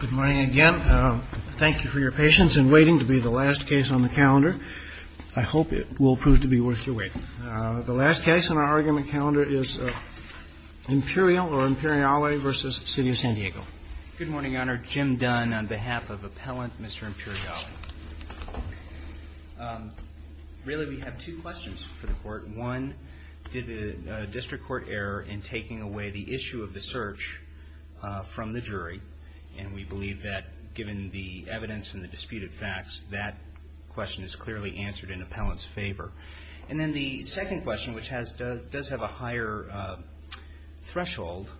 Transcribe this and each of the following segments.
Good morning again. Thank you for your patience in waiting to be the last case on the calendar. I hope it will prove to be worth your wait. The last case on our argument calendar is IMPERIAL or IMPERIALE v. CITY OF SAN DIEGO. Good morning, Your Honor. Jim Dunn on behalf of Appellant Mr. Imperiale. Really, we have two questions for the Court. One, did the District Court err in taking away the issue of the search from the jury? And we believe that given the evidence and the disputed facts, that question is clearly answered in Appellant's favor. And then the second question, which does have a higher threshold,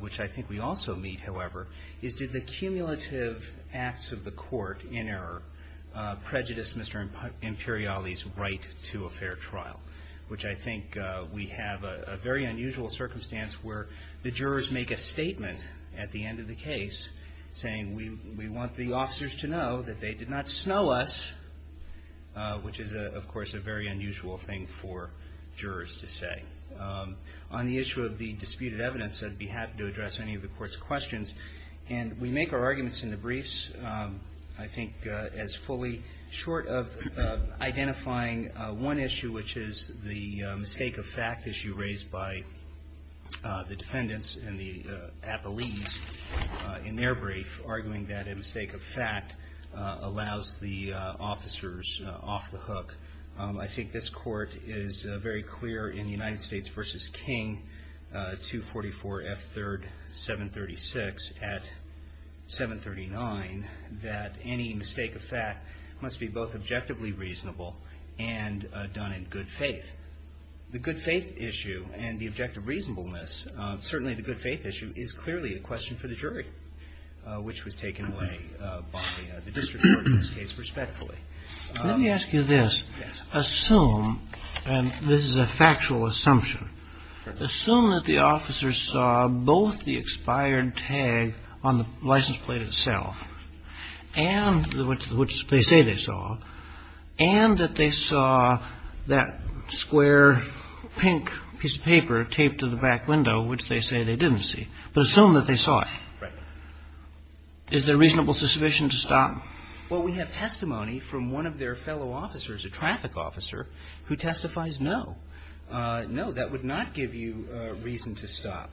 which I think we also meet, however, is did the cumulative acts of the Court in error prejudice Mr. Imperiale's right to a fair trial? Which I think we have a very unusual circumstance where the jurors make a statement at the end of the case saying we want the officers to know that they did not snow us, which is, of course, a very unusual thing for jurors to say. On the issue of the disputed evidence, I'd be happy to address any of the Court's questions. And we make our arguments in the briefs, I think, as fully short of identifying one issue, which is the mistake of fact issue raised by the defendants and the appellees in their brief, arguing that a mistake of fact allows the officers off the hook. I think this Court is very clear in the United States v. King, 244 F. 3rd, 736 at 739, that any mistake of fact must be both objectively reasonable and done in good faith. The good faith issue and the objective reasonableness, certainly the good faith issue, is clearly a question for the jury, which was taken away by the District Court in this case, respectfully. Let me ask you this. Assume, and this is a factual assumption, assume that the officers saw both the expired tag on the license plate itself and which they say they saw, and that they saw that square pink piece of paper taped to the back window, which they say they didn't see. But assume that they saw it. Right. Is there reasonable suspicion to stop them? Well, we have testimony from one of their fellow officers, a traffic officer, who testifies no. No, that would not give you reason to stop.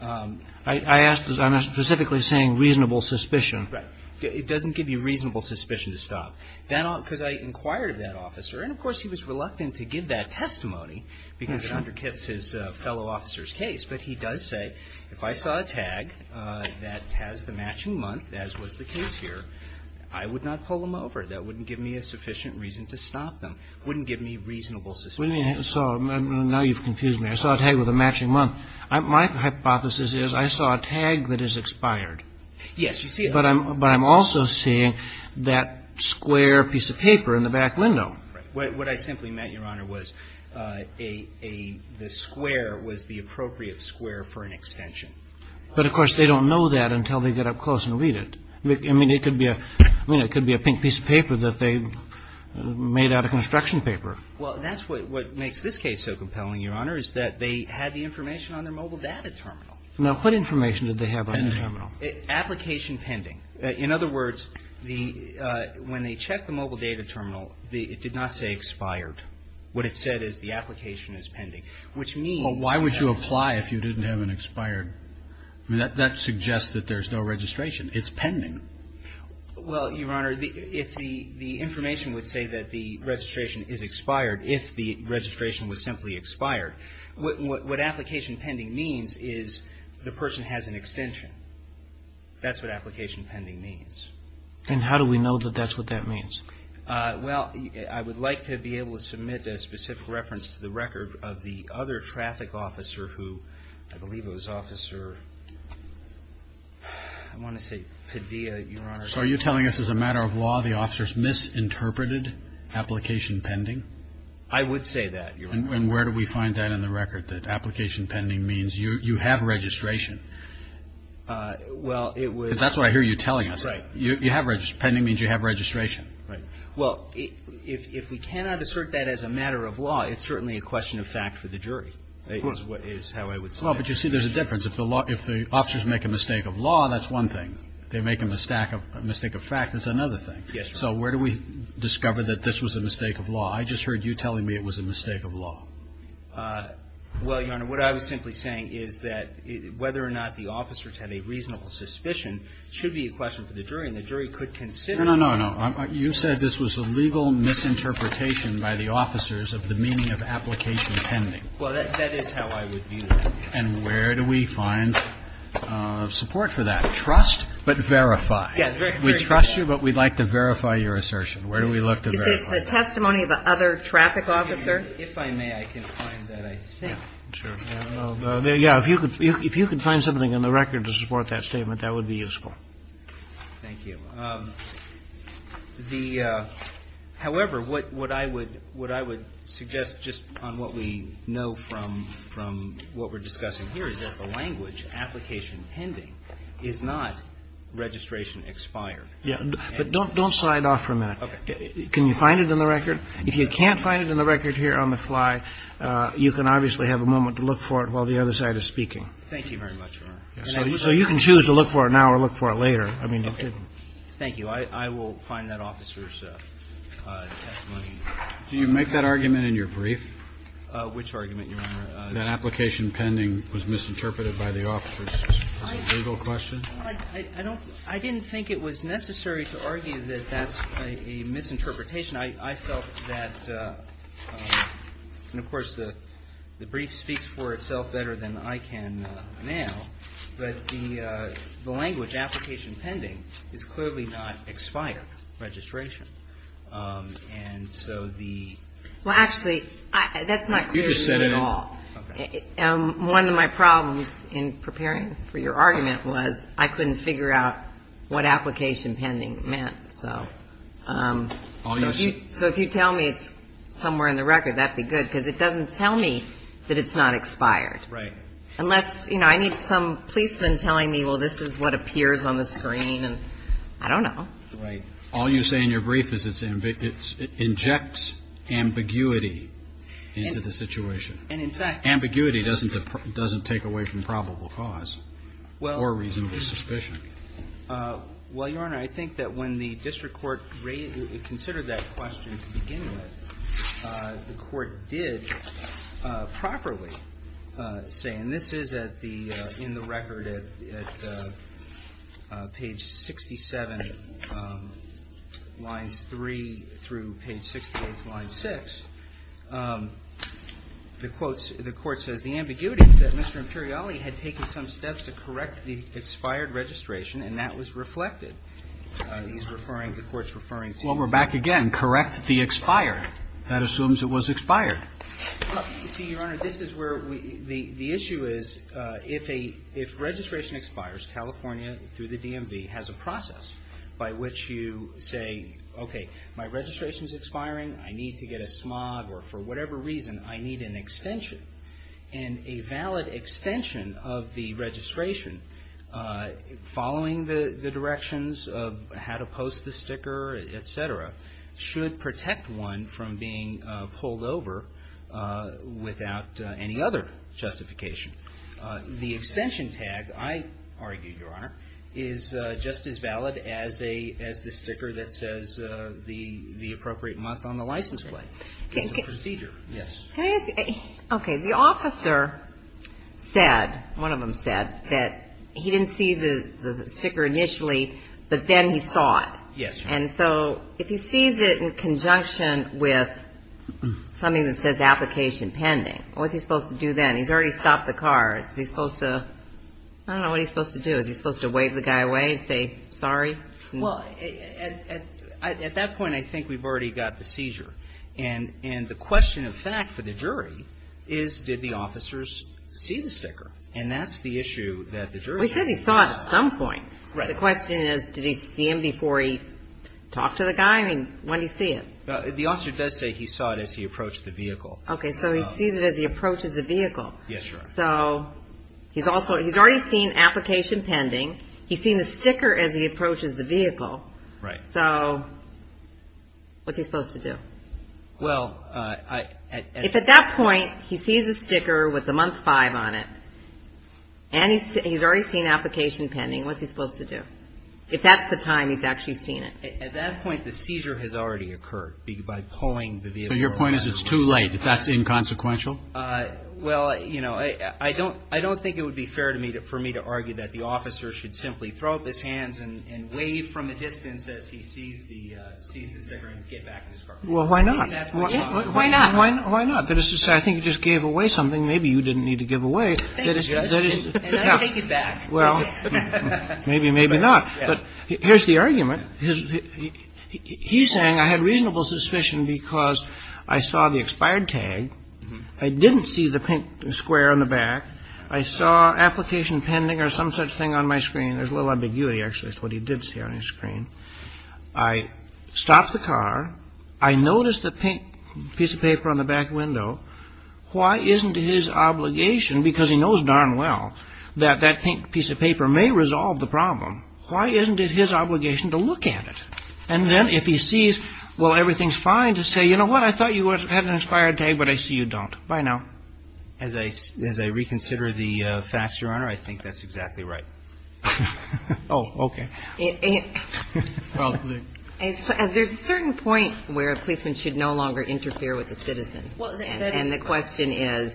I'm specifically saying reasonable suspicion. Right. It doesn't give you reasonable suspicion to stop. Because I inquired that officer, and, of course, he was reluctant to give that testimony because it undercuts his fellow officer's case. But he does say, if I saw a tag that has the matching month, as was the case here, I would not pull them over. That wouldn't give me a sufficient reason to stop them. It wouldn't give me reasonable suspicion. So now you've confused me. I saw a tag with a matching month. My hypothesis is I saw a tag that is expired. Yes, you see it. But I'm also seeing that square piece of paper in the back window. What I simply meant, Your Honor, was a — the square was the appropriate square for an extension. But, of course, they don't know that until they get up close and read it. I mean, it could be a — I mean, it could be a pink piece of paper that they made out of construction paper. Well, that's what makes this case so compelling, Your Honor, is that they had the information on their mobile data terminal. Now, what information did they have on the terminal? Application pending. In other words, the — when they checked the mobile data terminal, it did not say expired. What it said is the application is pending, which means — Well, why would you apply if you didn't have an expired? I mean, that suggests that there's no registration. It's pending. Well, Your Honor, if the information would say that the registration is expired, if the registration was simply expired, what application pending means is the person has an extension. That's what application pending means. And how do we know that that's what that means? Well, I would like to be able to submit a specific reference to the record of the other traffic officer who — I believe it was Officer — I want to say Padilla, Your Honor. So are you telling us as a matter of law the officers misinterpreted application pending? I would say that, Your Honor. And where do we find that in the record, that application pending means you have registration? Well, it was — Because that's what I hear you telling us. Right. You have — pending means you have registration. Right. Well, if we cannot assert that as a matter of law, it's certainly a question of fact for the jury, is how I would say. Well, but you see, there's a difference. If the officers make a mistake of law, that's one thing. If they make a mistake of fact, that's another thing. Yes, Your Honor. So where do we discover that this was a mistake of law? I just heard you telling me it was a mistake of law. Well, Your Honor, what I was simply saying is that whether or not the officers had a reasonable suspicion should be a question for the jury, and the jury could consider — No, no, no, no. You said this was a legal misinterpretation by the officers of the meaning of application pending. Well, that is how I would view it. And where do we find support for that? Trust, but verify. Yes. We trust you, but we'd like to verify your assertion. Where do we look to verify? Is it the testimony of another traffic officer? If I may, I can find that, I think. Sure. Yeah, if you could find something in the record to support that statement, that would be useful. Thank you. However, what I would suggest, just on what we know from what we're discussing here, is that the language, application pending, is not registration expired. Yeah, but don't slide off for a minute. Okay. Can you find it in the record? If you can't find it in the record here on the fly, you can obviously have a moment to look for it while the other side is speaking. Thank you very much, Your Honor. So you can choose to look for it now or look for it later. Okay. Thank you. I will find that officer's testimony. Do you make that argument in your brief? Which argument, Your Honor? That application pending was misinterpreted by the officers. Is that a legal question? I don't — I didn't think it was necessary to argue that that's a misinterpretation. I felt that — and, of course, the brief speaks for itself better than I can now. But the language, application pending, is clearly not expired registration. And so the — Well, actually, that's not clear to me at all. You just said it. Okay. One of my problems in preparing for your argument was I couldn't figure out what application pending meant. So if you tell me it's somewhere in the record, that would be good, because it doesn't tell me that it's not expired. Right. Unless, you know, I need some policeman telling me, well, this is what appears on the screen, and I don't know. Right. All you say in your brief is it's — it injects ambiguity into the situation. And, in fact — Ambiguity doesn't take away from probable cause or reasonable suspicion. Well, Your Honor, I think that when the district court considered that question to begin with, the court did properly say — and this is at the — in the record at page 67, lines 3 through page 68, line 6. The quotes — the court says the ambiguity is that Mr. Imperiali had taken some steps to correct the expired registration, and that was reflected. He's referring — the court's referring to — Well, we're back again. Correct the expired. That assumes it was expired. See, Your Honor, this is where we — the issue is if a — if registration expires, California, through the DMV, has a process by which you say, okay, my registration's expiring, I need to get a smog, or for whatever reason, I need an extension. And a valid extension of the registration, following the directions of how to post the sticker, et cetera, should protect one from being pulled over without any other justification. The extension tag, I argue, Your Honor, is just as valid as the sticker that says the appropriate month on the license plate. It's a procedure. Yes. Can I ask — okay. The officer said — one of them said that he didn't see the sticker initially, but then he saw it. Yes, Your Honor. And so if he sees it in conjunction with something that says application pending, what's he supposed to do then? He's already stopped the car. Is he supposed to — I don't know what he's supposed to do. Is he supposed to wave the guy away, say sorry? Well, at that point, I think we've already got the seizure. And the question of fact for the jury is, did the officers see the sticker? And that's the issue that the jury has. We said he saw it at some point. Right. The question is, did he see him before he talked to the guy? I mean, when did he see it? The officer does say he saw it as he approached the vehicle. Okay. So he sees it as he approaches the vehicle. Yes, Your Honor. So he's also — he's already seen application pending. He's seen the sticker as he approaches the vehicle. Right. So what's he supposed to do? Well, I — If at that point he sees a sticker with the month 5 on it, and he's already seen application pending, what's he supposed to do? If that's the time he's actually seen it. At that point, the seizure has already occurred by pulling the vehicle. So your point is it's too late, if that's inconsequential? Well, you know, I don't — I don't think it would be fair to me to — for me to argue that the officer should simply throw up his hands and wave from a distance as he sees the — sees the sticker and get back in his car. Well, why not? Why not? Why not? I think you just gave away something. Maybe you didn't need to give away. Thank you, Judge. And I take it back. Well, maybe, maybe not. But here's the argument. He's saying I had reasonable suspicion because I saw the expired tag. I didn't see the pink square on the back. I saw application pending or some such thing on my screen. There's a little ambiguity, actually, as to what he did see on his screen. I stopped the car. I noticed the pink piece of paper on the back window. Why isn't his obligation — because he knows darn well that that pink piece of paper may resolve the problem. Why isn't it his obligation to look at it? And then if he sees, well, everything's fine, to say, you know what, I thought you had an expired tag, but I see you don't. Bye now. As I reconsider the facts, Your Honor, I think that's exactly right. Oh, okay. There's a certain point where a policeman should no longer interfere with a citizen. And the question is,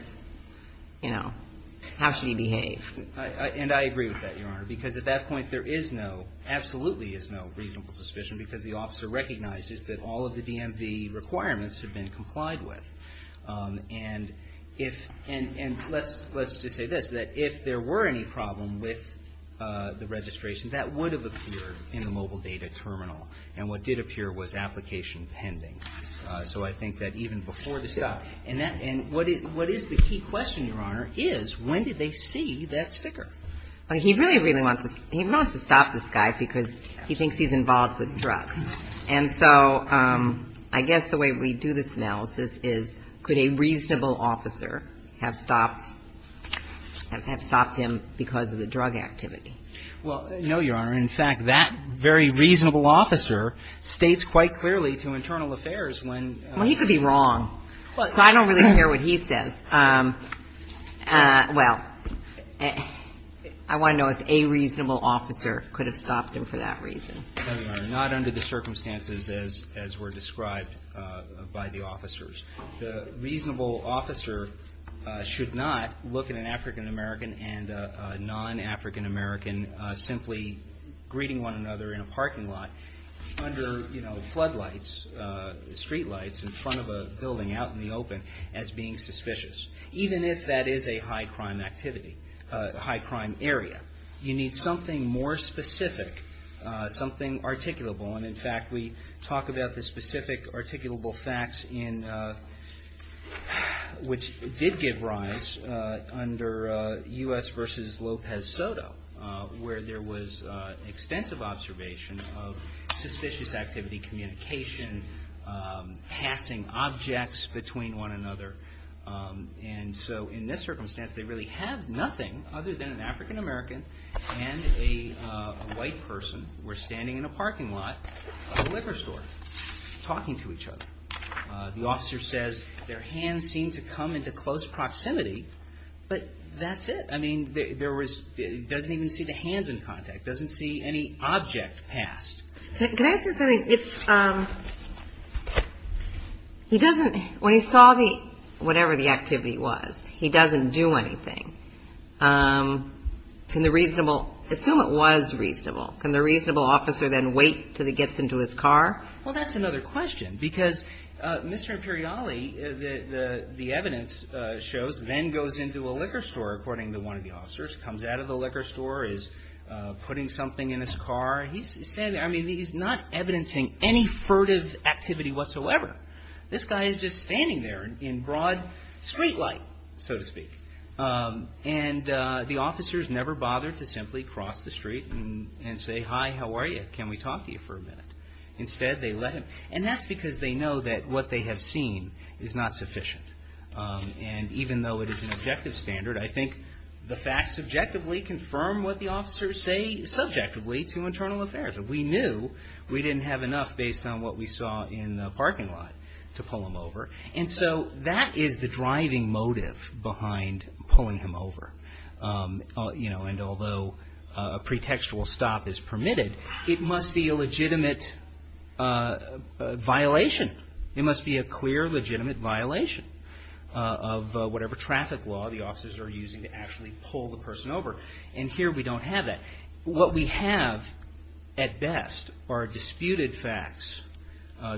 you know, how should he behave? And I agree with that, Your Honor, because at that point there is no — absolutely is no reasonable suspicion because the officer recognizes that all of the DMV requirements have been complied with. And if — and let's just say this, that if there were any problem with the registration, that would have appeared in the mobile data terminal. And what did appear was application pending. So I think that even before the stop — and what is the key question, Your Honor, is when did they see that sticker? Well, he really, really wants to — he wants to stop this guy because he thinks he's involved with drugs. And so I guess the way we do this analysis is could a reasonable officer have stopped — have stopped him because of the drug activity? Well, no, Your Honor. In fact, that very reasonable officer states quite clearly to Internal Affairs when — Well, he could be wrong. So I don't really care what he says. Well, I want to know if a reasonable officer could have stopped him for that reason. Not under the circumstances as were described by the officers. The reasonable officer should not look at an African American and a non-African American simply greeting one another in a parking lot under, you know, floodlights, streetlights, in front of a building out in the open, as being suspicious. Even if that is a high-crime activity, high-crime area. You need something more specific, something articulable. And in fact, we talk about the specific articulable facts in — which did give rise under U.S. v. Lopez Soto, where there was extensive observation of suspicious activity, communication, passing objects between one another. And so in this circumstance, they really had nothing other than an African American and a white person were standing in a parking lot of a liquor store talking to each other. The officer says their hands seemed to come into close proximity, but that's it. I mean, there was — he doesn't even see the hands in contact, doesn't see any object passed. Can I say something? If — he doesn't — when he saw the — whatever the activity was, he doesn't do anything. Can the reasonable — assume it was reasonable. Can the reasonable officer then wait until he gets into his car? Well, that's another question, because Mr. Imperiale, the evidence shows, then goes into a liquor store, according to one of the officers, comes out of the liquor store, is putting something in his car. He's standing — I mean, he's not evidencing any furtive activity whatsoever. This guy is just standing there in broad street light, so to speak. And the officers never bother to simply cross the street and say, hi, how are you? Can we talk to you for a minute? Instead, they let him — and that's because they know that what they have seen is not sufficient. And even though it is an objective standard, I think the facts subjectively confirm what the officers say subjectively to internal affairs. We knew we didn't have enough based on what we saw in the parking lot to pull him over. And so that is the driving motive behind pulling him over. And although a pretextual stop is permitted, it must be a legitimate violation. It must be a clear, legitimate violation of whatever traffic law the officers are using to actually pull the person over. And here we don't have that. What we have at best are disputed facts.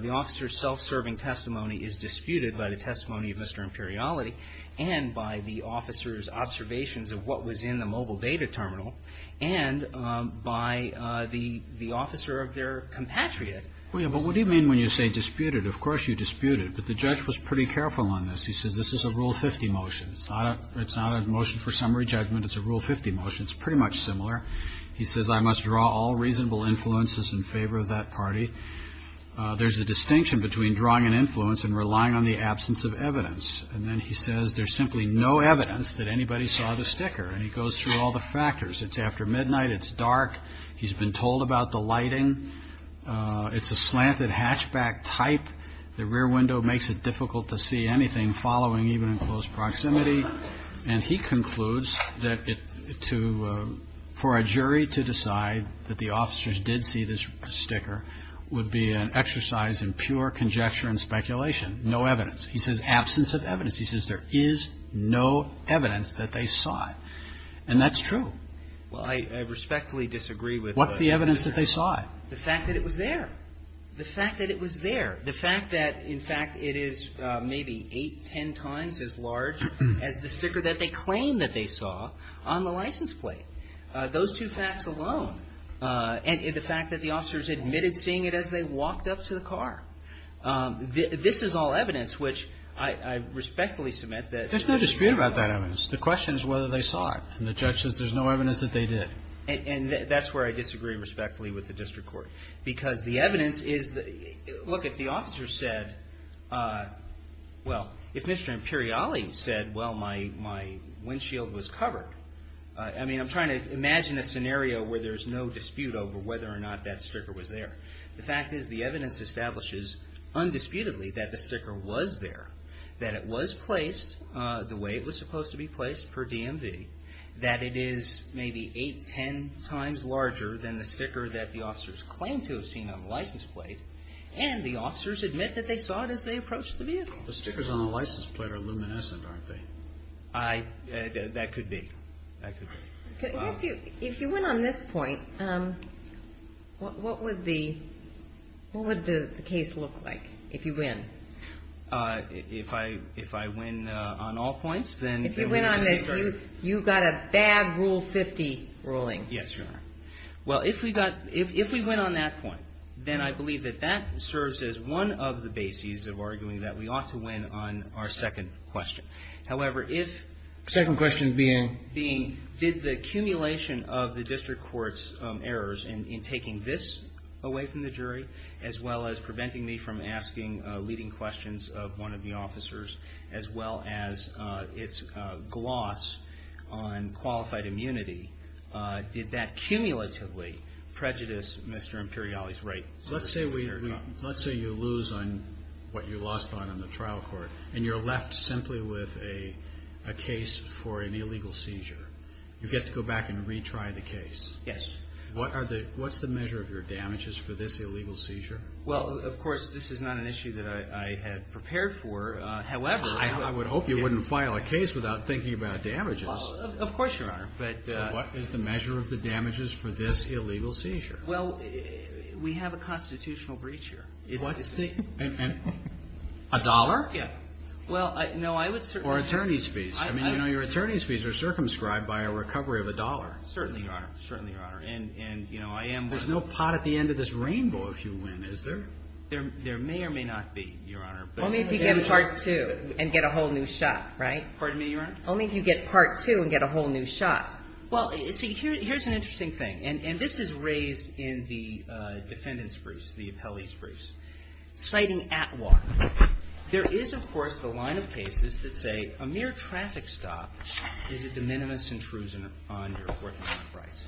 The officer's self-serving testimony is disputed by the testimony of Mr. Imperiale and by the officer's observations of what was in the mobile data terminal and by the officer of their compatriot. Well, yeah, but what do you mean when you say disputed? Of course you disputed. But the judge was pretty careful on this. He says this is a Rule 50 motion. It's not a motion for summary judgment. It's a Rule 50 motion. It's pretty much similar. He says I must draw all reasonable influences in favor of that party. There's a distinction between drawing an influence and relying on the absence of evidence. And then he says there's simply no evidence that anybody saw the sticker. And he goes through all the factors. It's after midnight. It's dark. He's been told about the lighting. It's a slanted hatchback type. The rear window makes it difficult to see anything following even in close proximity. And he concludes that for a jury to decide that the officers did see this sticker would be an exercise in pure conjecture and speculation, no evidence. He says absence of evidence. He says there is no evidence that they saw it. And that's true. Well, I respectfully disagree with the evidence. There is no evidence that they saw it. The fact that it was there. The fact that it was there. The fact that, in fact, it is maybe eight, ten times as large as the sticker that they claim that they saw on the license plate. Those two facts alone. And the fact that the officers admitted seeing it as they walked up to the car. This is all evidence which I respectfully submit that the jury did not see. There's no dispute about that evidence. The question is whether they saw it. And the judge says there's no evidence that they did. And that's where I disagree respectfully with the district court. Because the evidence is, look, if the officers said, well, if Mr. Imperiali said, well, my windshield was covered. I mean, I'm trying to imagine a scenario where there's no dispute over whether or not that sticker was there. The fact is the evidence establishes undisputedly that the sticker was there. That it was placed the way it was supposed to be placed per DMV. That it is maybe eight, ten times larger than the sticker that the officers claim to have seen on the license plate. And the officers admit that they saw it as they approached the vehicle. The stickers on the license plate are luminescent, aren't they? That could be. That could be. If you win on this point, what would the case look like if you win? If I win on all points, then. If you win on this, you've got a bad Rule 50 ruling. Yes, Your Honor. Well, if we win on that point, then I believe that that serves as one of the bases of arguing that we ought to win on our second question. However, if. Second question being. Being, did the accumulation of the district court's errors in taking this away from the jury as well as preventing me from asking leading questions of one of the officers as well as its gloss on qualified immunity. Did that cumulatively prejudice Mr. Imperiali's right? Let's say you lose on what you lost on in the trial court. And you're left simply with a case for an illegal seizure. You get to go back and retry the case. Yes. What's the measure of your damages for this illegal seizure? Well, of course, this is not an issue that I had prepared for. However. I would hope you wouldn't file a case without thinking about damages. Of course, Your Honor. But. What is the measure of the damages for this illegal seizure? Well, we have a constitutional breach here. What's the. And. A dollar? Yeah. Well, no, I would certainly. Or attorney's fees. I mean, you know, your attorney's fees are circumscribed by a recovery of a dollar. Certainly, Your Honor. Certainly, Your Honor. And, you know, I am. There's no pot at the end of this rainbow if you win, is there? There may or may not be, Your Honor. Only if you get a part two and get a whole new shot, right? Pardon me, Your Honor? Only if you get part two and get a whole new shot. Well, see, here's an interesting thing. And this is raised in the defendant's briefs, the appellee's briefs. Citing Atwater. There is, of course, the line of cases that say a mere traffic stop is a de minimis intrusion on your court enterprise.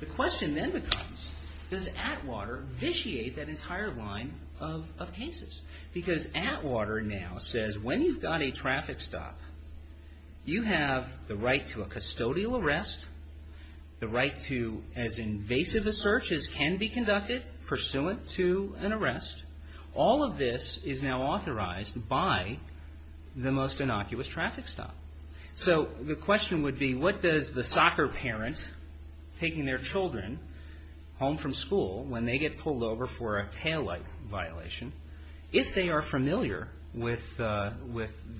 The question then becomes, does Atwater vitiate that entire line of cases? Because Atwater now says, when you've got a traffic stop, you have the right to a custodial arrest, the right to, as invasive a search as can be conducted, pursuant to an arrest. All of this is now authorized by the most innocuous traffic stop. So the question would be, what does the soccer parent taking their children home from school, when they get pulled over for a taillight violation, if they are familiar with the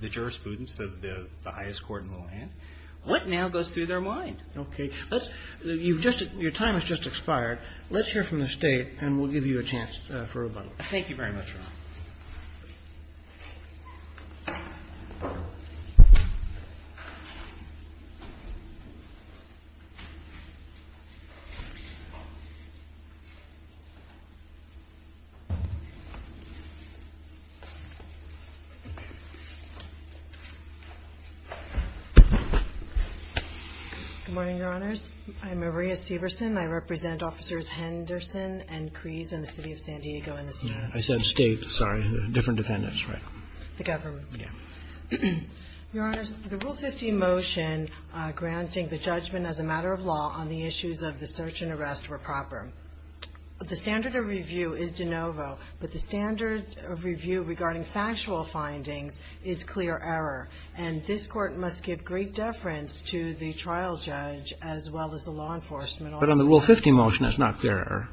jurisprudence of the highest court in the land, what now goes through their mind? Okay. Your time has just expired. Let's hear from the State, and we'll give you a chance for rebuttal. Thank you very much, Your Honor. Good morning, Your Honors. I'm Maria Severson. I represent Officers Henderson and Kreese in the City of San Diego. I said State, sorry, different defendants, right? The government. Yeah. Your Honors, the Rule 50 motion granting the judgment as a matter of law on the issues of the search and arrest were proper. The standard of review is de novo, but the standard of review regarding factual findings is clear error, and this Court must give great deference to the trial judge as well as the law enforcement officer. But on the Rule 50 motion, it's not clear error.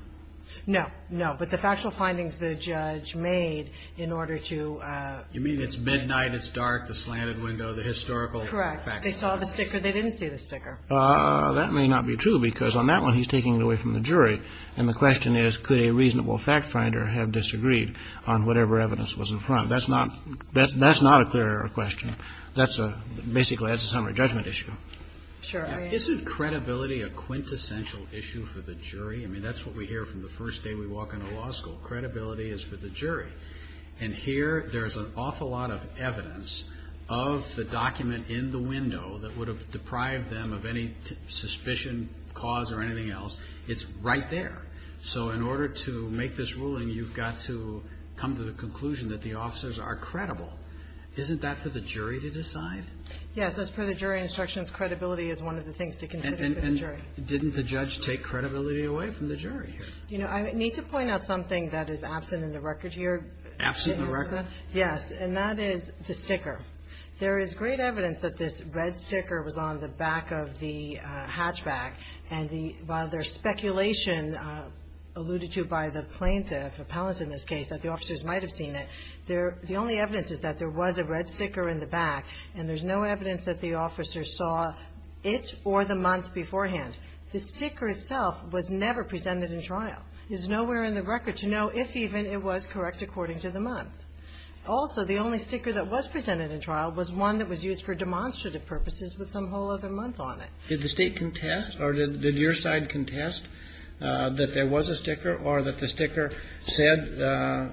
No. No. But the factual findings the judge made in order to ---- You mean it's midnight, it's dark, the slanted window, the historical ---- Correct. They saw the sticker. They didn't see the sticker. That may not be true, because on that one, he's taking it away from the jury. And the question is, could a reasonable fact finder have disagreed on whatever evidence was in front? That's not a clear error question. That's a ---- basically, that's a summary judgment issue. Sure. Isn't credibility a quintessential issue for the jury? I mean, that's what we hear from the first day we walk into law school. Credibility is for the jury. And here, there's an awful lot of evidence of the document in the window that would have deprived them of any suspicion, cause, or anything else. It's right there. So in order to make this ruling, you've got to come to the conclusion that the officers are credible. Isn't that for the jury to decide? Yes. As per the jury instructions, credibility is one of the things to consider for the Didn't the judge take credibility away from the jury here? You know, I need to point out something that is absent in the record here. Absent in the record? Yes. And that is the sticker. There is great evidence that this red sticker was on the back of the hatchback. And the ---- while there's speculation alluded to by the plaintiff, appellant in this case, that the officers might have seen it, there ---- the only evidence is that there was a red sticker in the back, and there's no evidence that the officers saw it or the month beforehand. The sticker itself was never presented in trial. There's nowhere in the record to know if even it was correct according to the month. Also, the only sticker that was presented in trial was one that was used for demonstrative purposes with some whole other month on it. Did the State contest or did your side contest that there was a sticker or that the sticker said,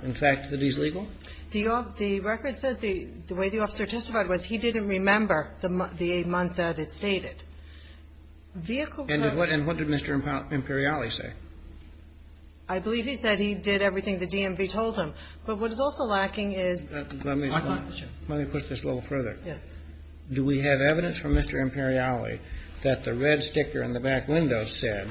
in fact, that he's legal? The record says the way the officer testified was he didn't remember the month that it stated. Vehicle ---- And what did Mr. Imperiali say? I believe he said he did everything the DMV told him. But what is also lacking is ---- Let me push this a little further. Yes. Do we have evidence from Mr. Imperiali that the red sticker in the back window said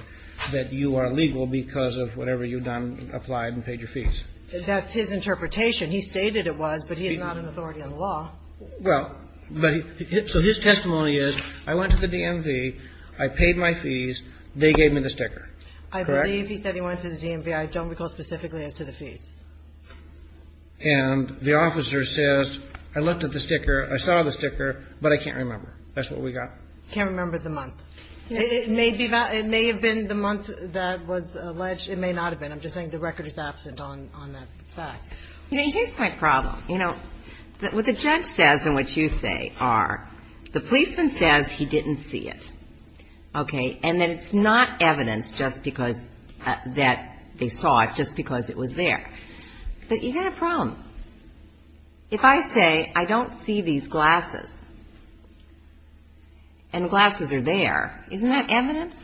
that you are legal because of whatever you've done, applied and paid your fees? That's his interpretation. He stated it was, but he is not an authority on the law. Well, but his testimony is, I went to the DMV, I paid my fees, they gave me the sticker. Correct? I believe he said he went to the DMV. I don't recall specifically as to the fees. And the officer says, I looked at the sticker, I saw the sticker, but I can't remember. That's what we got. Can't remember the month. It may have been the month that was alleged. It may not have been. I'm just saying the record is absent on that fact. You know, here's my problem. You know, what the judge says and what you say are, the policeman says he didn't see it. Okay? And that it's not evidence just because that they saw it, just because it was there. But you've got a problem. If I say I don't see these glasses and the glasses are there, isn't that evidence?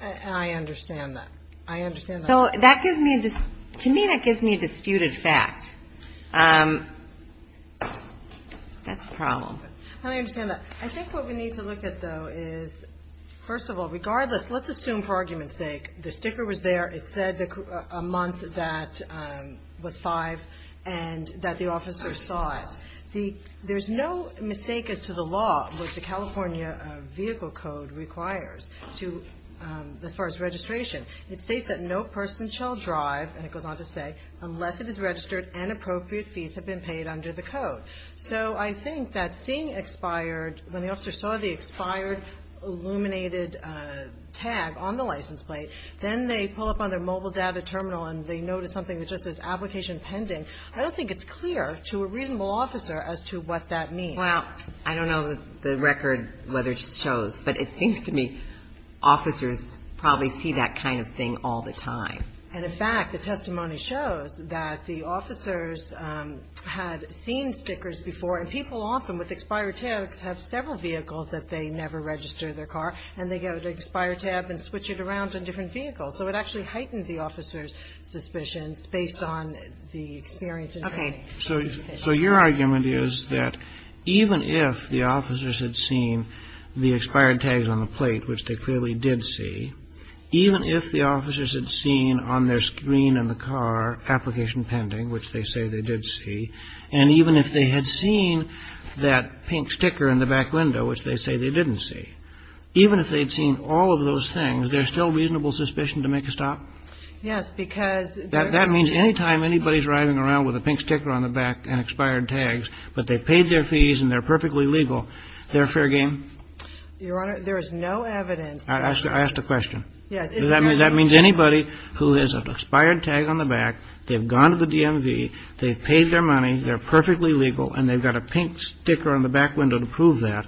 I understand that. I understand that. To me, that gives me a disputed fact. That's a problem. I understand that. I think what we need to look at, though, is, first of all, regardless, let's assume for argument's sake, the sticker was there, it said a month that was 5 and that the officer saw it. There's no mistake as to the law that the California Vehicle Code requires as far as registration. It states that no person shall drive, and it goes on to say, unless it is registered and appropriate fees have been paid under the code. So I think that seeing expired, when the officer saw the expired illuminated tag on the license plate, then they pull up on their mobile data terminal and they notice something that just says application pending, I don't think it's clear to a reasonable officer as to what that means. Well, I don't know the record whether it shows, but it seems to me officers probably see that kind of thing all the time. And, in fact, the testimony shows that the officers had seen stickers before, and people often with expired tags have several vehicles that they never register their car, and they get an expired tab and switch it around on different vehicles. So it actually heightens the officer's suspicions based on the experience and training. So your argument is that even if the officers had seen the expired tags on the plate, which they clearly did see, even if the officers had seen on their screen in the car application pending, which they say they did see, and even if they had seen that pink sticker in the back window, which they say they didn't see, even if they had seen all of those things, there's still reasonable suspicion to make a stop? Yes. That means any time anybody's driving around with a pink sticker on the back and expired tags, but they paid their fees and they're perfectly legal, they're fair game? Your Honor, there is no evidence that that's the case. I asked a question. Yes. That means anybody who has an expired tag on the back, they've gone to the DMV, they've paid their money, they're perfectly legal, and they've got a pink sticker on the back window to prove that,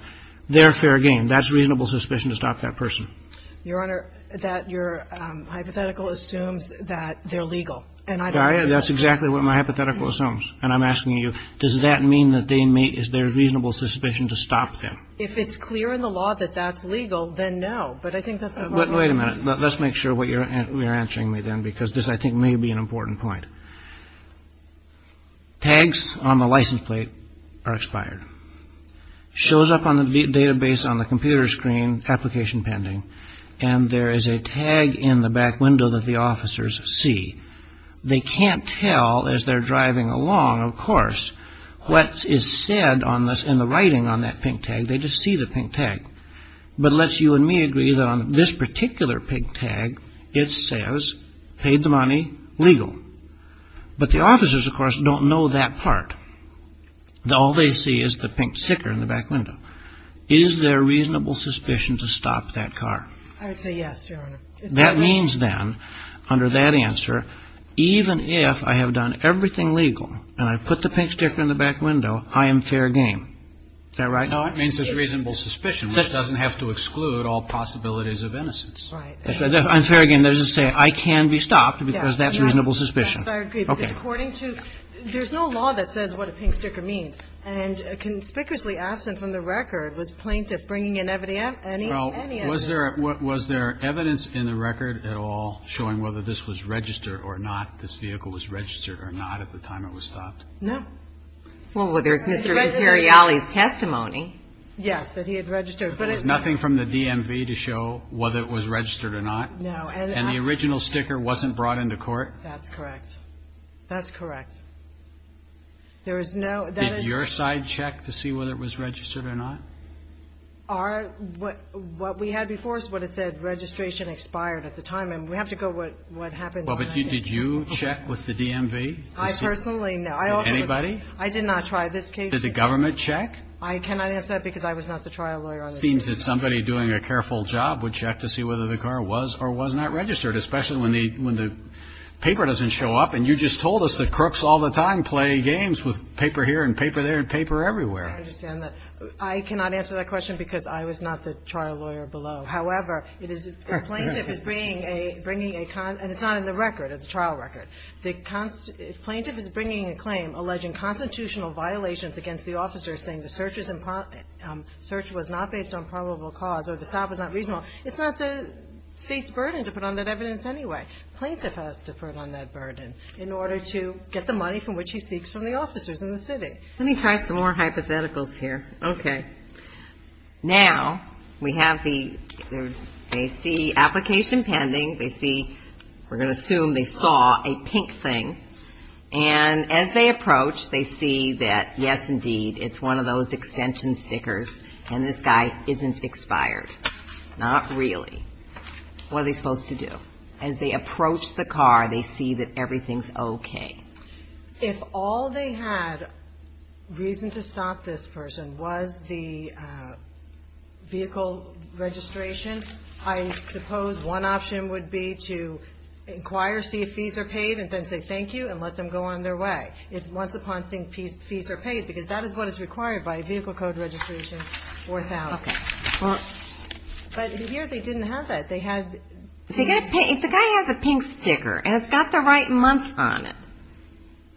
they're fair game. That's reasonable suspicion to stop that person. Your Honor, that your hypothetical assumes that they're legal. And I don't think that's true. That's exactly what my hypothetical assumes. And I'm asking you, does that mean that there's reasonable suspicion to stop them? If it's clear in the law that that's legal, then no. But I think that's a problem. But wait a minute. Let's make sure what you're answering me then, because this, I think, may be an important point. Tags on the license plate are expired. Shows up on the database on the computer screen, application pending. And there is a tag in the back window that the officers see. They can't tell as they're driving along, of course, what is said in the writing on that pink tag. They just see the pink tag. But let's you and me agree that on this particular pink tag, it says, paid the money, legal. But the officers, of course, don't know that part. All they see is the pink sticker in the back window. Is there reasonable suspicion to stop that car? I would say yes, Your Honor. That means then, under that answer, even if I have done everything legal, and I put the pink sticker in the back window, I am fair game. Is that right? No, it means there's reasonable suspicion, which doesn't have to exclude all possibilities of innocence. Right. I'm fair game. There's a saying, I can be stopped, because that's reasonable suspicion. There's no law that says what a pink sticker means. And conspicuously absent from the record was plaintiff bringing in any evidence. Was there evidence in the record at all showing whether this was registered or not, this vehicle was registered or not at the time it was stopped? No. Well, there's Mr. Imperiali's testimony. Yes, that he had registered. There was nothing from the DMV to show whether it was registered or not? No. And the original sticker wasn't brought into court? That's correct. That's correct. Did your side check to see whether it was registered or not? What we had before is what it said, registration expired at the time. And we have to go with what happened. Well, but did you check with the DMV? I personally, no. Anybody? I did not try. Did the government check? I cannot answer that, because I was not the trial lawyer on this case. It seems that somebody doing a careful job would check to see whether the car was or was not registered, especially when the paper doesn't show up. And you just told us that crooks all the time play games with paper here and paper there and paper everywhere. I understand that. I cannot answer that question, because I was not the trial lawyer below. However, it is the plaintiff is bringing a con – and it's not in the record. It's a trial record. The plaintiff is bringing a claim alleging constitutional violations against the officer, saying the search was not based on probable cause or the stop was not reasonable. It's not the state's burden to put on that evidence anyway. The plaintiff has to put on that burden in order to get the money from which he seeks from the officers in the city. Let me try some more hypotheticals here. Okay. Now, we have the – they see application pending. They see – we're going to assume they saw a pink thing. And as they approach, they see that, yes, indeed, it's one of those extension stickers, and this guy isn't expired. Not really. What are they supposed to do? As they approach the car, they see that everything's okay. If all they had reason to stop this person was the vehicle registration, I suppose one option would be to inquire, see if fees are paid, and then say thank you and let them go on their way. If once upon seeing fees are paid, because that is what is required by vehicle code registration 4000. Okay. But here they didn't have that. They had – The guy has a pink sticker, and it's got the right month on it.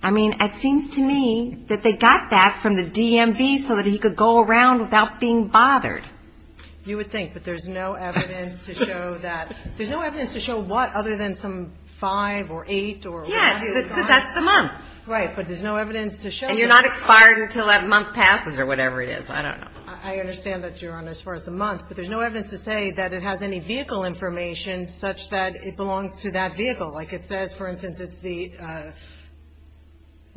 I mean, it seems to me that they got that from the DMV so that he could go around without being bothered. You would think, but there's no evidence to show that – there's no evidence to show what other than some five or eight or whatever. Yes, that's the month. Right, but there's no evidence to show that. And you're not expired until that month passes or whatever it is. I don't know. I understand that, Your Honor, as far as the month, but there's no evidence to say that it has any vehicle information such that it belongs to that vehicle. Like it says, for instance, it's the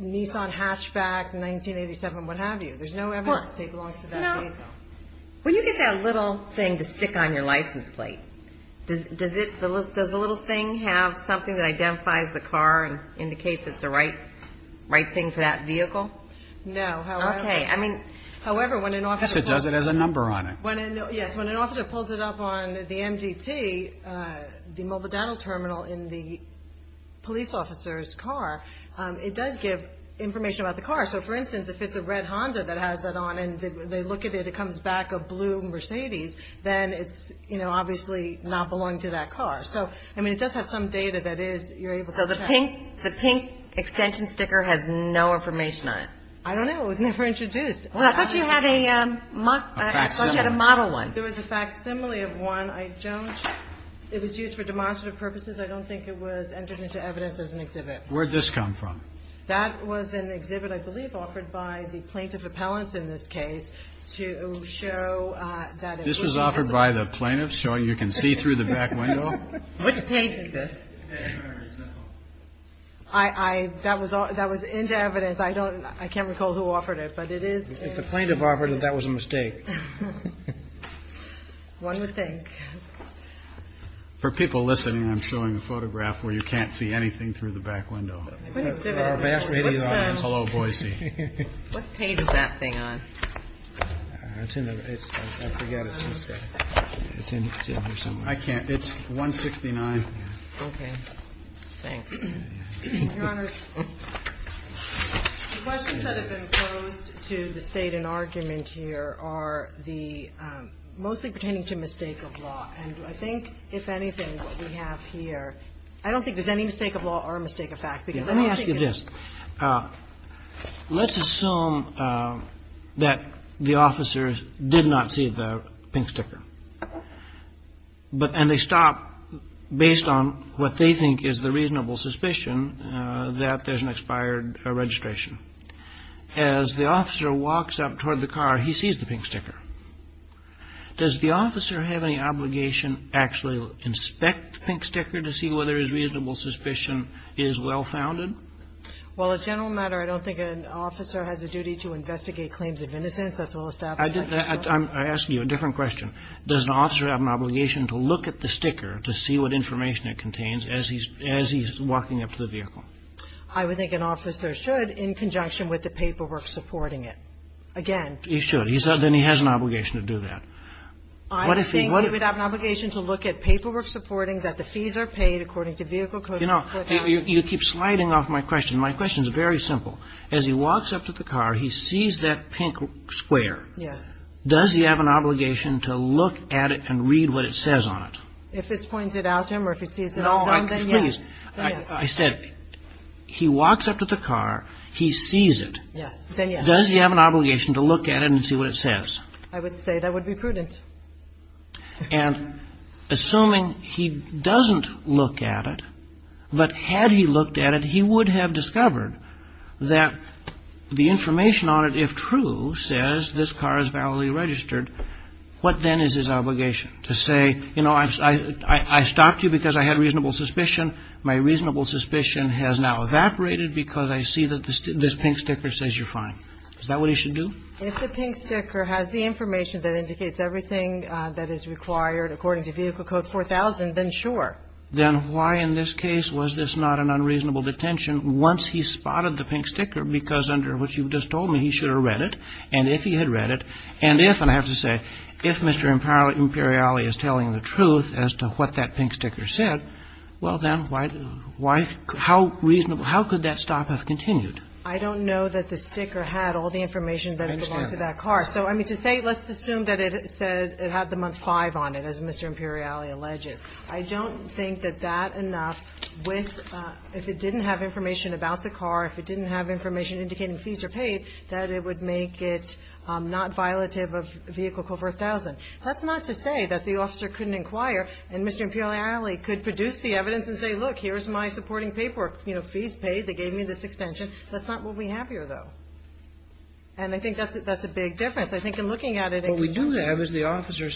Nissan Hatchback 1987, what have you. There's no evidence that it belongs to that vehicle. When you get that little thing to stick on your license plate, does the little thing have something that identifies the car and indicates it's the right thing for that vehicle? No. Okay. I mean, however, when an officer – So it does it as a number on it. Yes. When an officer pulls it up on the MDT, the mobile data terminal in the police officer's car, it does give information about the car. So, for instance, if it's a red Honda that has that on and they look at it, it comes back a blue Mercedes, then it's obviously not belonging to that car. So, I mean, it does have some data that you're able to check. So the pink extension sticker has no information on it? I don't know. It was never introduced. Well, I thought you had a model one. There was a facsimile of one. I don't – it was used for demonstrative purposes. I don't think it was entered into evidence as an exhibit. Where'd this come from? That was an exhibit, I believe, offered by the plaintiff appellants in this case to show that it was – This was offered by the plaintiffs, showing you can see through the back window? What page is this? I – that was into evidence. I don't – I can't recall who offered it. But it is – If the plaintiff offered it, that was a mistake. One would think. For people listening, I'm showing a photograph where you can't see anything through the back window. Hello, Boise. What page is that thing on? I forget. It's in here somewhere. I can't. It's 169. Okay. Thanks. Your Honors, the questions that have been posed to the State in argument here are the – mostly pertaining to mistake of law. And I think, if anything, what we have here – I don't think there's any mistake of law or a mistake of fact, because I don't think it's – Let me ask you this. Let's assume that the officer did not see the pink sticker. But – and they stop based on what they think is the reasonable suspicion that there's an expired registration. As the officer walks up toward the car, he sees the pink sticker. Does the officer have any obligation to actually inspect the pink sticker to see whether his reasonable suspicion is well-founded? Well, as a general matter, I don't think an officer has a duty to investigate claims of innocence. That's well established. I'm asking you a different question. Does an officer have an obligation to look at the sticker to see what information it contains as he's walking up to the vehicle? I would think an officer should, in conjunction with the paperwork supporting it. Again – He should. Then he has an obligation to do that. I would think he would have an obligation to look at paperwork supporting that the fees are paid according to vehicle code. You know, you keep sliding off my question. My question is very simple. As he walks up to the car, he sees that pink square. Yes. Does he have an obligation to look at it and read what it says on it? If it's pointed out to him or if he sees it all, then yes. I said he walks up to the car, he sees it. Yes. Then yes. Does he have an obligation to look at it and see what it says? I would say that would be prudent. And assuming he doesn't look at it, but had he looked at it, he would have discovered that the information on it, if true, says this car is validly registered, what then is his obligation? To say, you know, I stopped you because I had reasonable suspicion. My reasonable suspicion has now evaporated because I see that this pink sticker says you're fine. Is that what he should do? If the pink sticker has the information that indicates everything that is required according to Vehicle Code 4000, then sure. Then why in this case was this not an unreasonable detention once he spotted the pink sticker? Because under what you just told me, he should have read it. And if he had read it, and if, and I have to say, if Mr. Imperiali is telling the truth as to what that pink sticker said, well, then why, how reasonable, how could that stop have continued? I don't know that the sticker had all the information that belonged to that car. I understand that. So, I mean, to say, let's assume that it said it had the month 5 on it, as Mr. Imperiali alleges. I don't think that that enough with, if it didn't have information about the car, if it didn't have information indicating fees are paid, that it would make it not violative of Vehicle Code 4000. That's not to say that the officer couldn't inquire and Mr. Imperiali could produce the evidence and say, look, here's my supporting paperwork, you know, fees paid, they gave me this extension, that's not what we have here, though. And I think that's a big difference. I think in looking at it. What we do have is the officer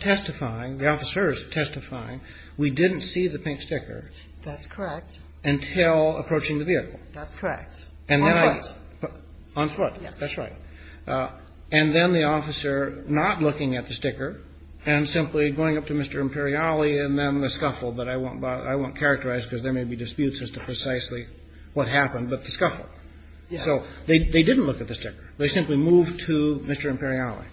testifying, the officers testifying, we didn't see the pink sticker. That's correct. Until approaching the vehicle. That's correct. On foot. On foot, that's right. And then the officer not looking at the sticker and simply going up to Mr. Imperiali and then the scuffle, that I won't characterize because there may be disputes as to precisely what happened, but the scuffle. Yes. So they didn't look at the sticker. They simply moved to Mr. Imperiali.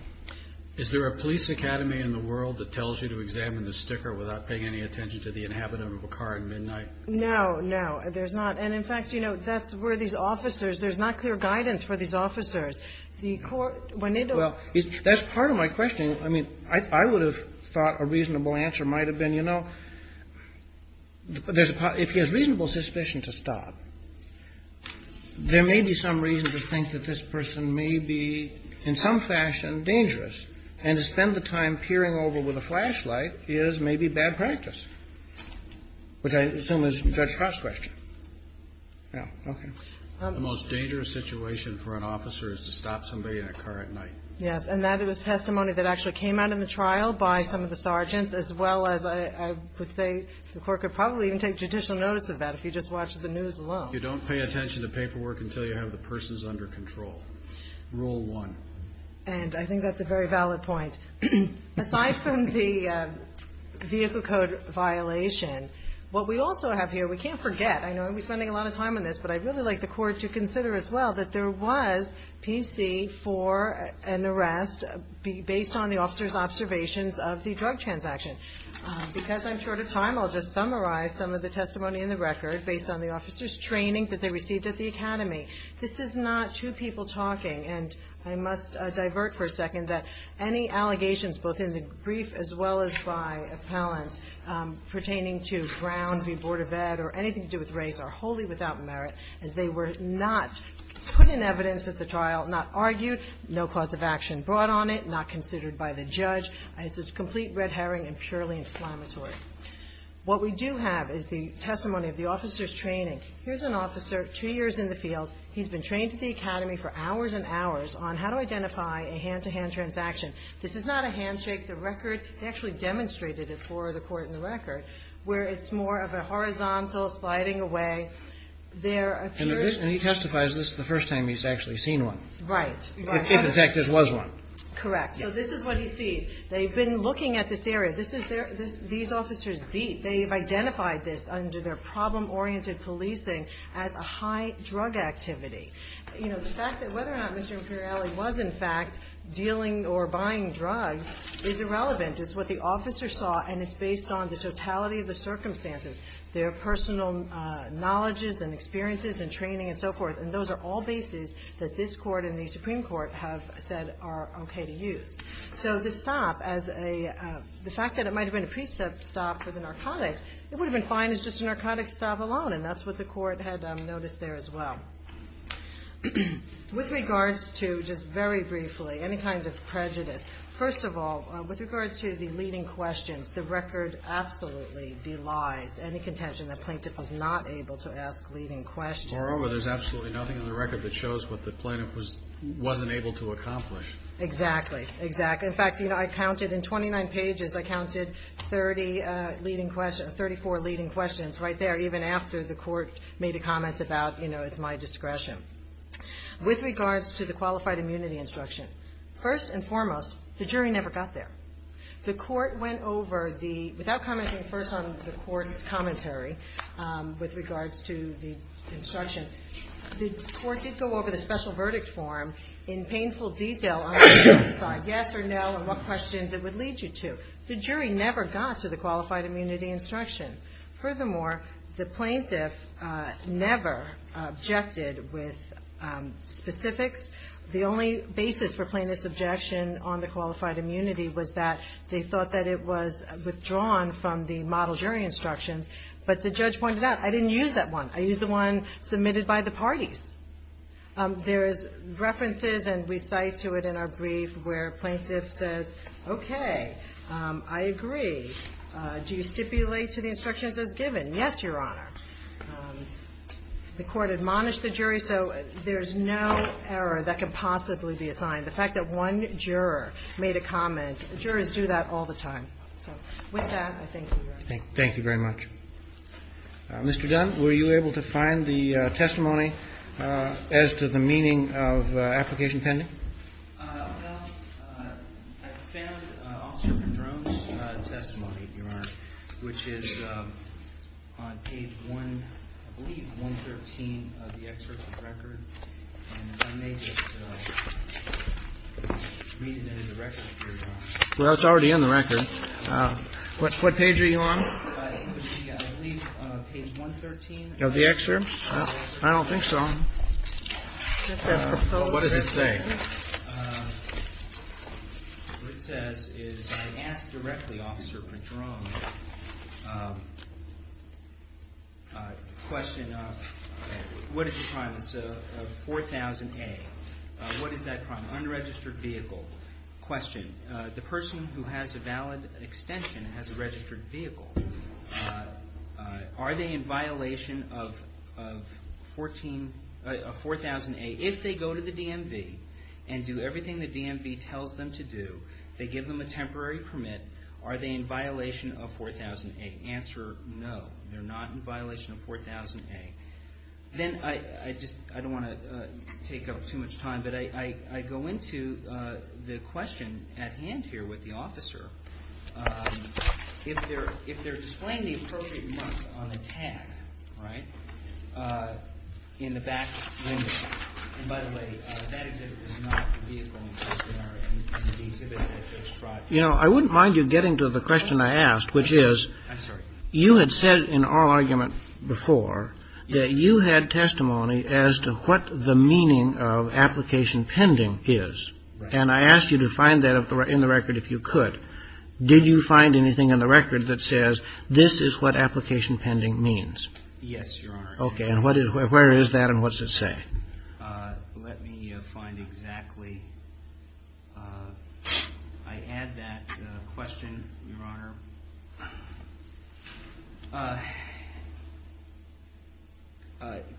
Is there a police academy in the world that tells you to examine the sticker without paying any attention to the inhabitant of a car at midnight? No, no. There's not. And, in fact, you know, that's where these officers, there's not clear guidance for these officers. The court, when they don't. Well, that's part of my question. I mean, I would have thought a reasonable answer might have been, you know, if he has reasonable suspicion to stop, there may be some reason to think that this person may be in some fashion dangerous, and to spend the time peering over with a flashlight is maybe bad practice, which I assume is Judge Cross's question. Yeah. Okay. The most dangerous situation for an officer is to stop somebody in a car at night. Yes. And that is testimony that actually came out in the trial by some of the sergeants as well as I would say the court could probably even take judicial notice of that if you just watched the news alone. You don't pay attention to paperwork until you have the persons under control. Rule one. And I think that's a very valid point. Aside from the vehicle code violation, what we also have here, we can't forget. I know we're spending a lot of time on this, but I'd really like the Court to consider as well that there was PC for an arrest based on the officer's observations of the drug transaction. Because I'm short of time, I'll just summarize some of the testimony in the record based on the officer's training that they received at the academy. This is not two people talking, and I must divert for a second that any allegations, both in the brief as well as by appellants, pertaining to Brown v. Board of Ed or anything to do with race are wholly without merit as they were not put in evidence at the trial, not argued, no cause of action brought on it, not considered by the judge. It's a complete red herring and purely inflammatory. What we do have is the testimony of the officer's training. Here's an officer two years in the field. He's been trained at the academy for hours and hours on how to identify a hand-to-hand transaction. This is not a handshake. The record actually demonstrated it for the court in the record where it's more of a horizontal sliding away. And he testifies this is the first time he's actually seen one. Right. If, in fact, this was one. Correct. So this is what he sees. They've been looking at this area. These officers have identified this under their problem-oriented policing as a high drug activity. The fact that whether or not Mr. Imperiali was, in fact, dealing or buying drugs is irrelevant. It's what the officer saw, and it's based on the totality of the circumstances, their personal knowledges and experiences and training and so forth. And those are all bases that this Court and the Supreme Court have said are okay to use. So this stop, the fact that it might have been a pre-stop for the narcotics, it would have been fine as just a narcotics stop alone, and that's what the court had noticed there as well. With regards to, just very briefly, any kinds of prejudice, first of all, with regards to the leading questions, the record absolutely belies any contention the plaintiff was not able to ask leading questions. Moreover, there's absolutely nothing in the record that shows what the plaintiff wasn't able to accomplish. Exactly. In fact, in 29 pages I counted 34 leading questions right there, even after the court made a comment about, you know, it's my discretion. With regards to the qualified immunity instruction, first and foremost, the jury never got there. The court went over the, without commenting first on the court's commentary, with regards to the instruction, the court did go over the special verdict form in painful detail on the jury's side, yes or no, and what questions it would lead you to. The jury never got to the qualified immunity instruction. Furthermore, the plaintiff never objected with specifics. The only basis for plaintiff's objection on the qualified immunity was that they thought that it was withdrawn from the model jury instructions, but the judge pointed out, I didn't use that one. I used the one submitted by the parties. There is references, and we cite to it in our brief, where plaintiff says, okay, I agree. Do you stipulate to the instructions as given? Yes, Your Honor. The court admonished the jury, so there's no error that can possibly be assigned. The fact that one juror made a comment, jurors do that all the time. So with that, I thank you, Your Honor. Roberts. Thank you very much. Mr. Dunn, were you able to find the testimony as to the meaning of application pending? Dunn. Well, I found Officer Padrone's testimony, Your Honor, which is on page one, I believe 113 of the excerpt of the record. And I may just read it in the record. Well, it's already in the record. What page are you on? It would be, I believe, page 113. Of the excerpt? I don't think so. What does it say? What it says is, I asked directly Officer Padrone the question, what is the crime? It's a 4000A. What is that crime? Unregistered vehicle. Question. The person who has a valid extension has a registered vehicle. Are they in violation of 4000A? If they go to the DMV and do everything the DMV tells them to do, they give them a temporary permit, are they in violation of 4000A? Answer, no. They're not in violation of 4000A. Then I just don't want to take up too much time, but I go into the question at hand here with the officer. If they're explaining the appropriate mark on the tag, right, in the back window. And by the way, that exhibit is not the vehicle in question. In the exhibit I just brought you. You know, I wouldn't mind you getting to the question I asked, which is, you had said in our argument before that you had testimony as to what the meaning of application pending is. And I asked you to find that in the record if you could. Did you find anything in the record that says this is what application pending means? Yes, Your Honor. Okay. And where is that and what's it say? Let me find exactly. I add that question, Your Honor.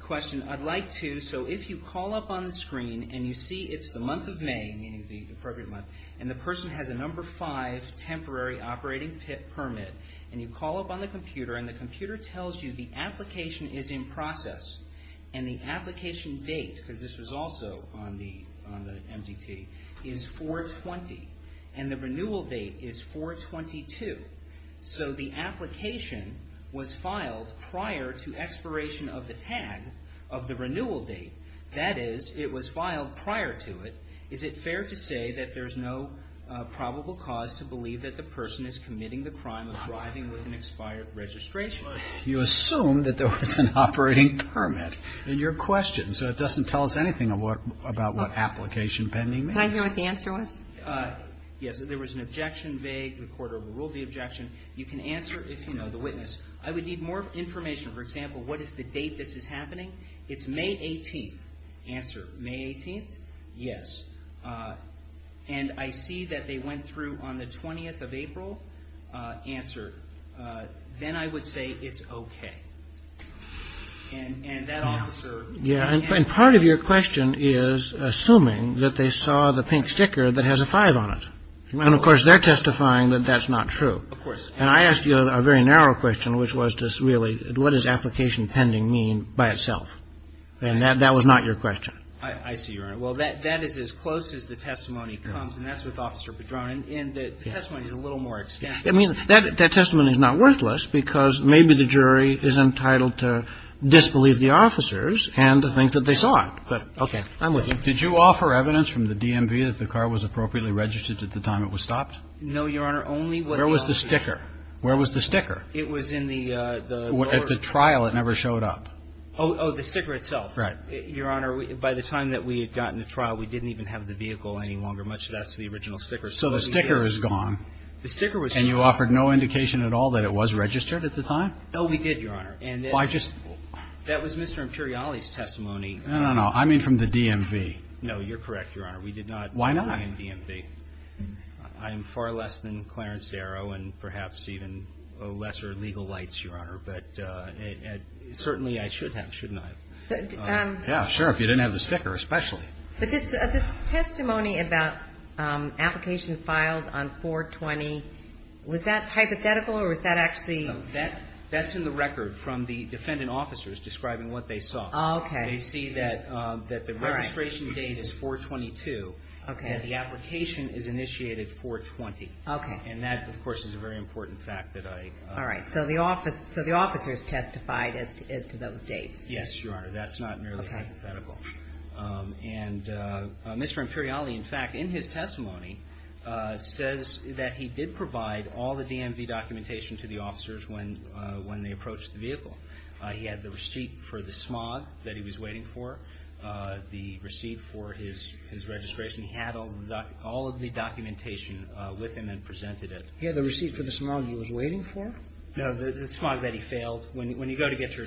Question, I'd like to, so if you call up on the screen and you see it's the month of May, meaning the appropriate month, and the person has a number five temporary operating permit, and you call up on the computer and the computer tells you the application is in process and the application date, because this was also on the MDT, is 4-20, and the renewal date is 4-22. So the application was filed prior to expiration of the tag of the renewal date. That is, it was filed prior to it. Is it fair to say that there's no probable cause to believe that the person is committing the crime of driving with an expired registration? You assume that there was an operating permit in your question, so it doesn't tell us anything about what application pending means. Can I hear what the answer was? Yes, there was an objection vague. The court overruled the objection. You can answer if you know the witness. I would need more information. For example, what is the date this is happening? It's May 18th. Answer, May 18th? Yes. And I see that they went through on the 20th of April. Answer, then I would say it's okay. And that officer. And part of your question is assuming that they saw the pink sticker that has a 5 on it. And, of course, they're testifying that that's not true. Of course. And I asked you a very narrow question, which was just really what does application pending mean by itself? And that was not your question. I see, Your Honor. Well, that is as close as the testimony comes, and that's with Officer Padron. And the testimony is a little more extensive. I mean, that testimony is not worthless because maybe the jury is entitled to disbelieve the officers and to think that they saw it. But, okay, I'm with you. Did you offer evidence from the DMV that the car was appropriately registered at the time it was stopped? No, Your Honor. Where was the sticker? Where was the sticker? It was in the lower. At the trial, it never showed up. Oh, the sticker itself. Right. Your Honor, by the time that we had gotten to trial, we didn't even have the vehicle any longer, much less the original sticker. So the sticker is gone. The sticker was gone. And you offered no indication at all that it was registered at the time? No, we did, Your Honor. Why just? That was Mr. Imperiali's testimony. No, no, no. I mean from the DMV. No, you're correct, Your Honor. We did not. Why not? I am far less than Clarence Darrow and perhaps even lesser legal lights, Your Honor. But certainly I should have, shouldn't I? Yeah, sure, if you didn't have the sticker, especially. But this testimony about application filed on 420, was that hypothetical or was that actually? No, that's in the record from the defendant officers describing what they saw. Oh, okay. They see that the registration date is 422. Okay. And the application is initiated 420. Okay. And that, of course, is a very important fact that I... All right. So the officers testified as to those dates. Yes, Your Honor. That's not merely hypothetical. Okay. And Mr. Imperiali, in fact, in his testimony says that he did provide all the DMV documentation to the officers when they approached the vehicle. He had the receipt for the smog that he was waiting for, the receipt for his registration. He had all of the documentation with him and presented it. He had the receipt for the smog he was waiting for? No, the smog that he failed. When you go to get your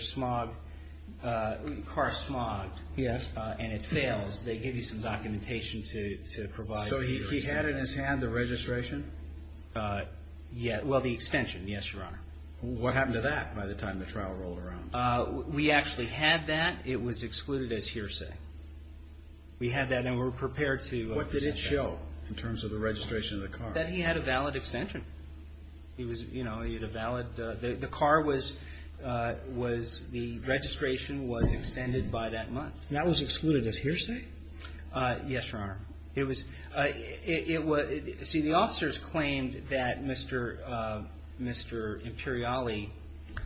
car smogged and it fails, they give you some documentation to provide. So he had in his hand the registration? Well, the extension, yes, Your Honor. What happened to that by the time the trial rolled around? We actually had that. It was excluded as hearsay. We had that and were prepared to present that. What did it show in terms of the registration of the car? That he had a valid extension. He was, you know, he had a valid... The car was... That was excluded as hearsay? Yes, Your Honor. It was... It was... See, the officers claimed that Mr. Imperiali...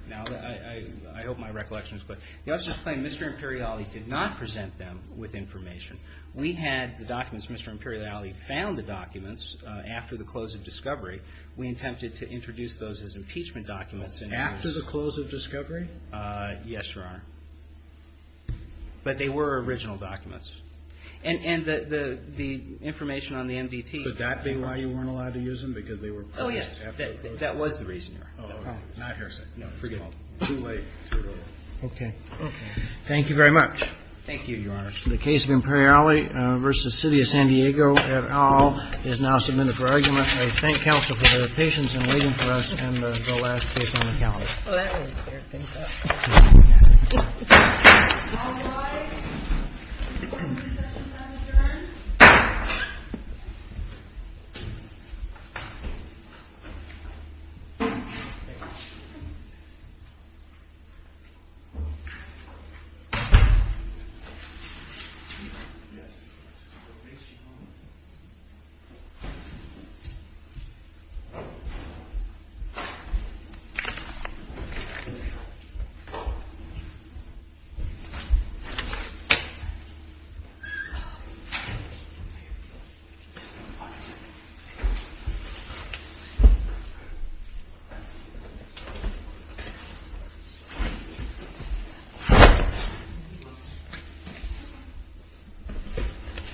Now, I hope my recollection is clear. The officers claimed Mr. Imperiali did not present them with information. We had the documents. Mr. Imperiali found the documents after the close of discovery. We attempted to introduce those as impeachment documents. After the close of discovery? Yes, Your Honor. But they were original documents. And the information on the MDT... Could that be why you weren't allowed to use them? Because they were... Oh, yes. That was the reason. Not hearsay. No, forget it. Too late. Okay. Thank you very much. Thank you, Your Honor. The case of Imperiali v. City of San Diego et al. is now submitted for argument. I thank counsel for their patience in waiting for us and the last case on the calendar. Oh, that was... Mr. Imperiali, Your Honor. Thank you. Thank you.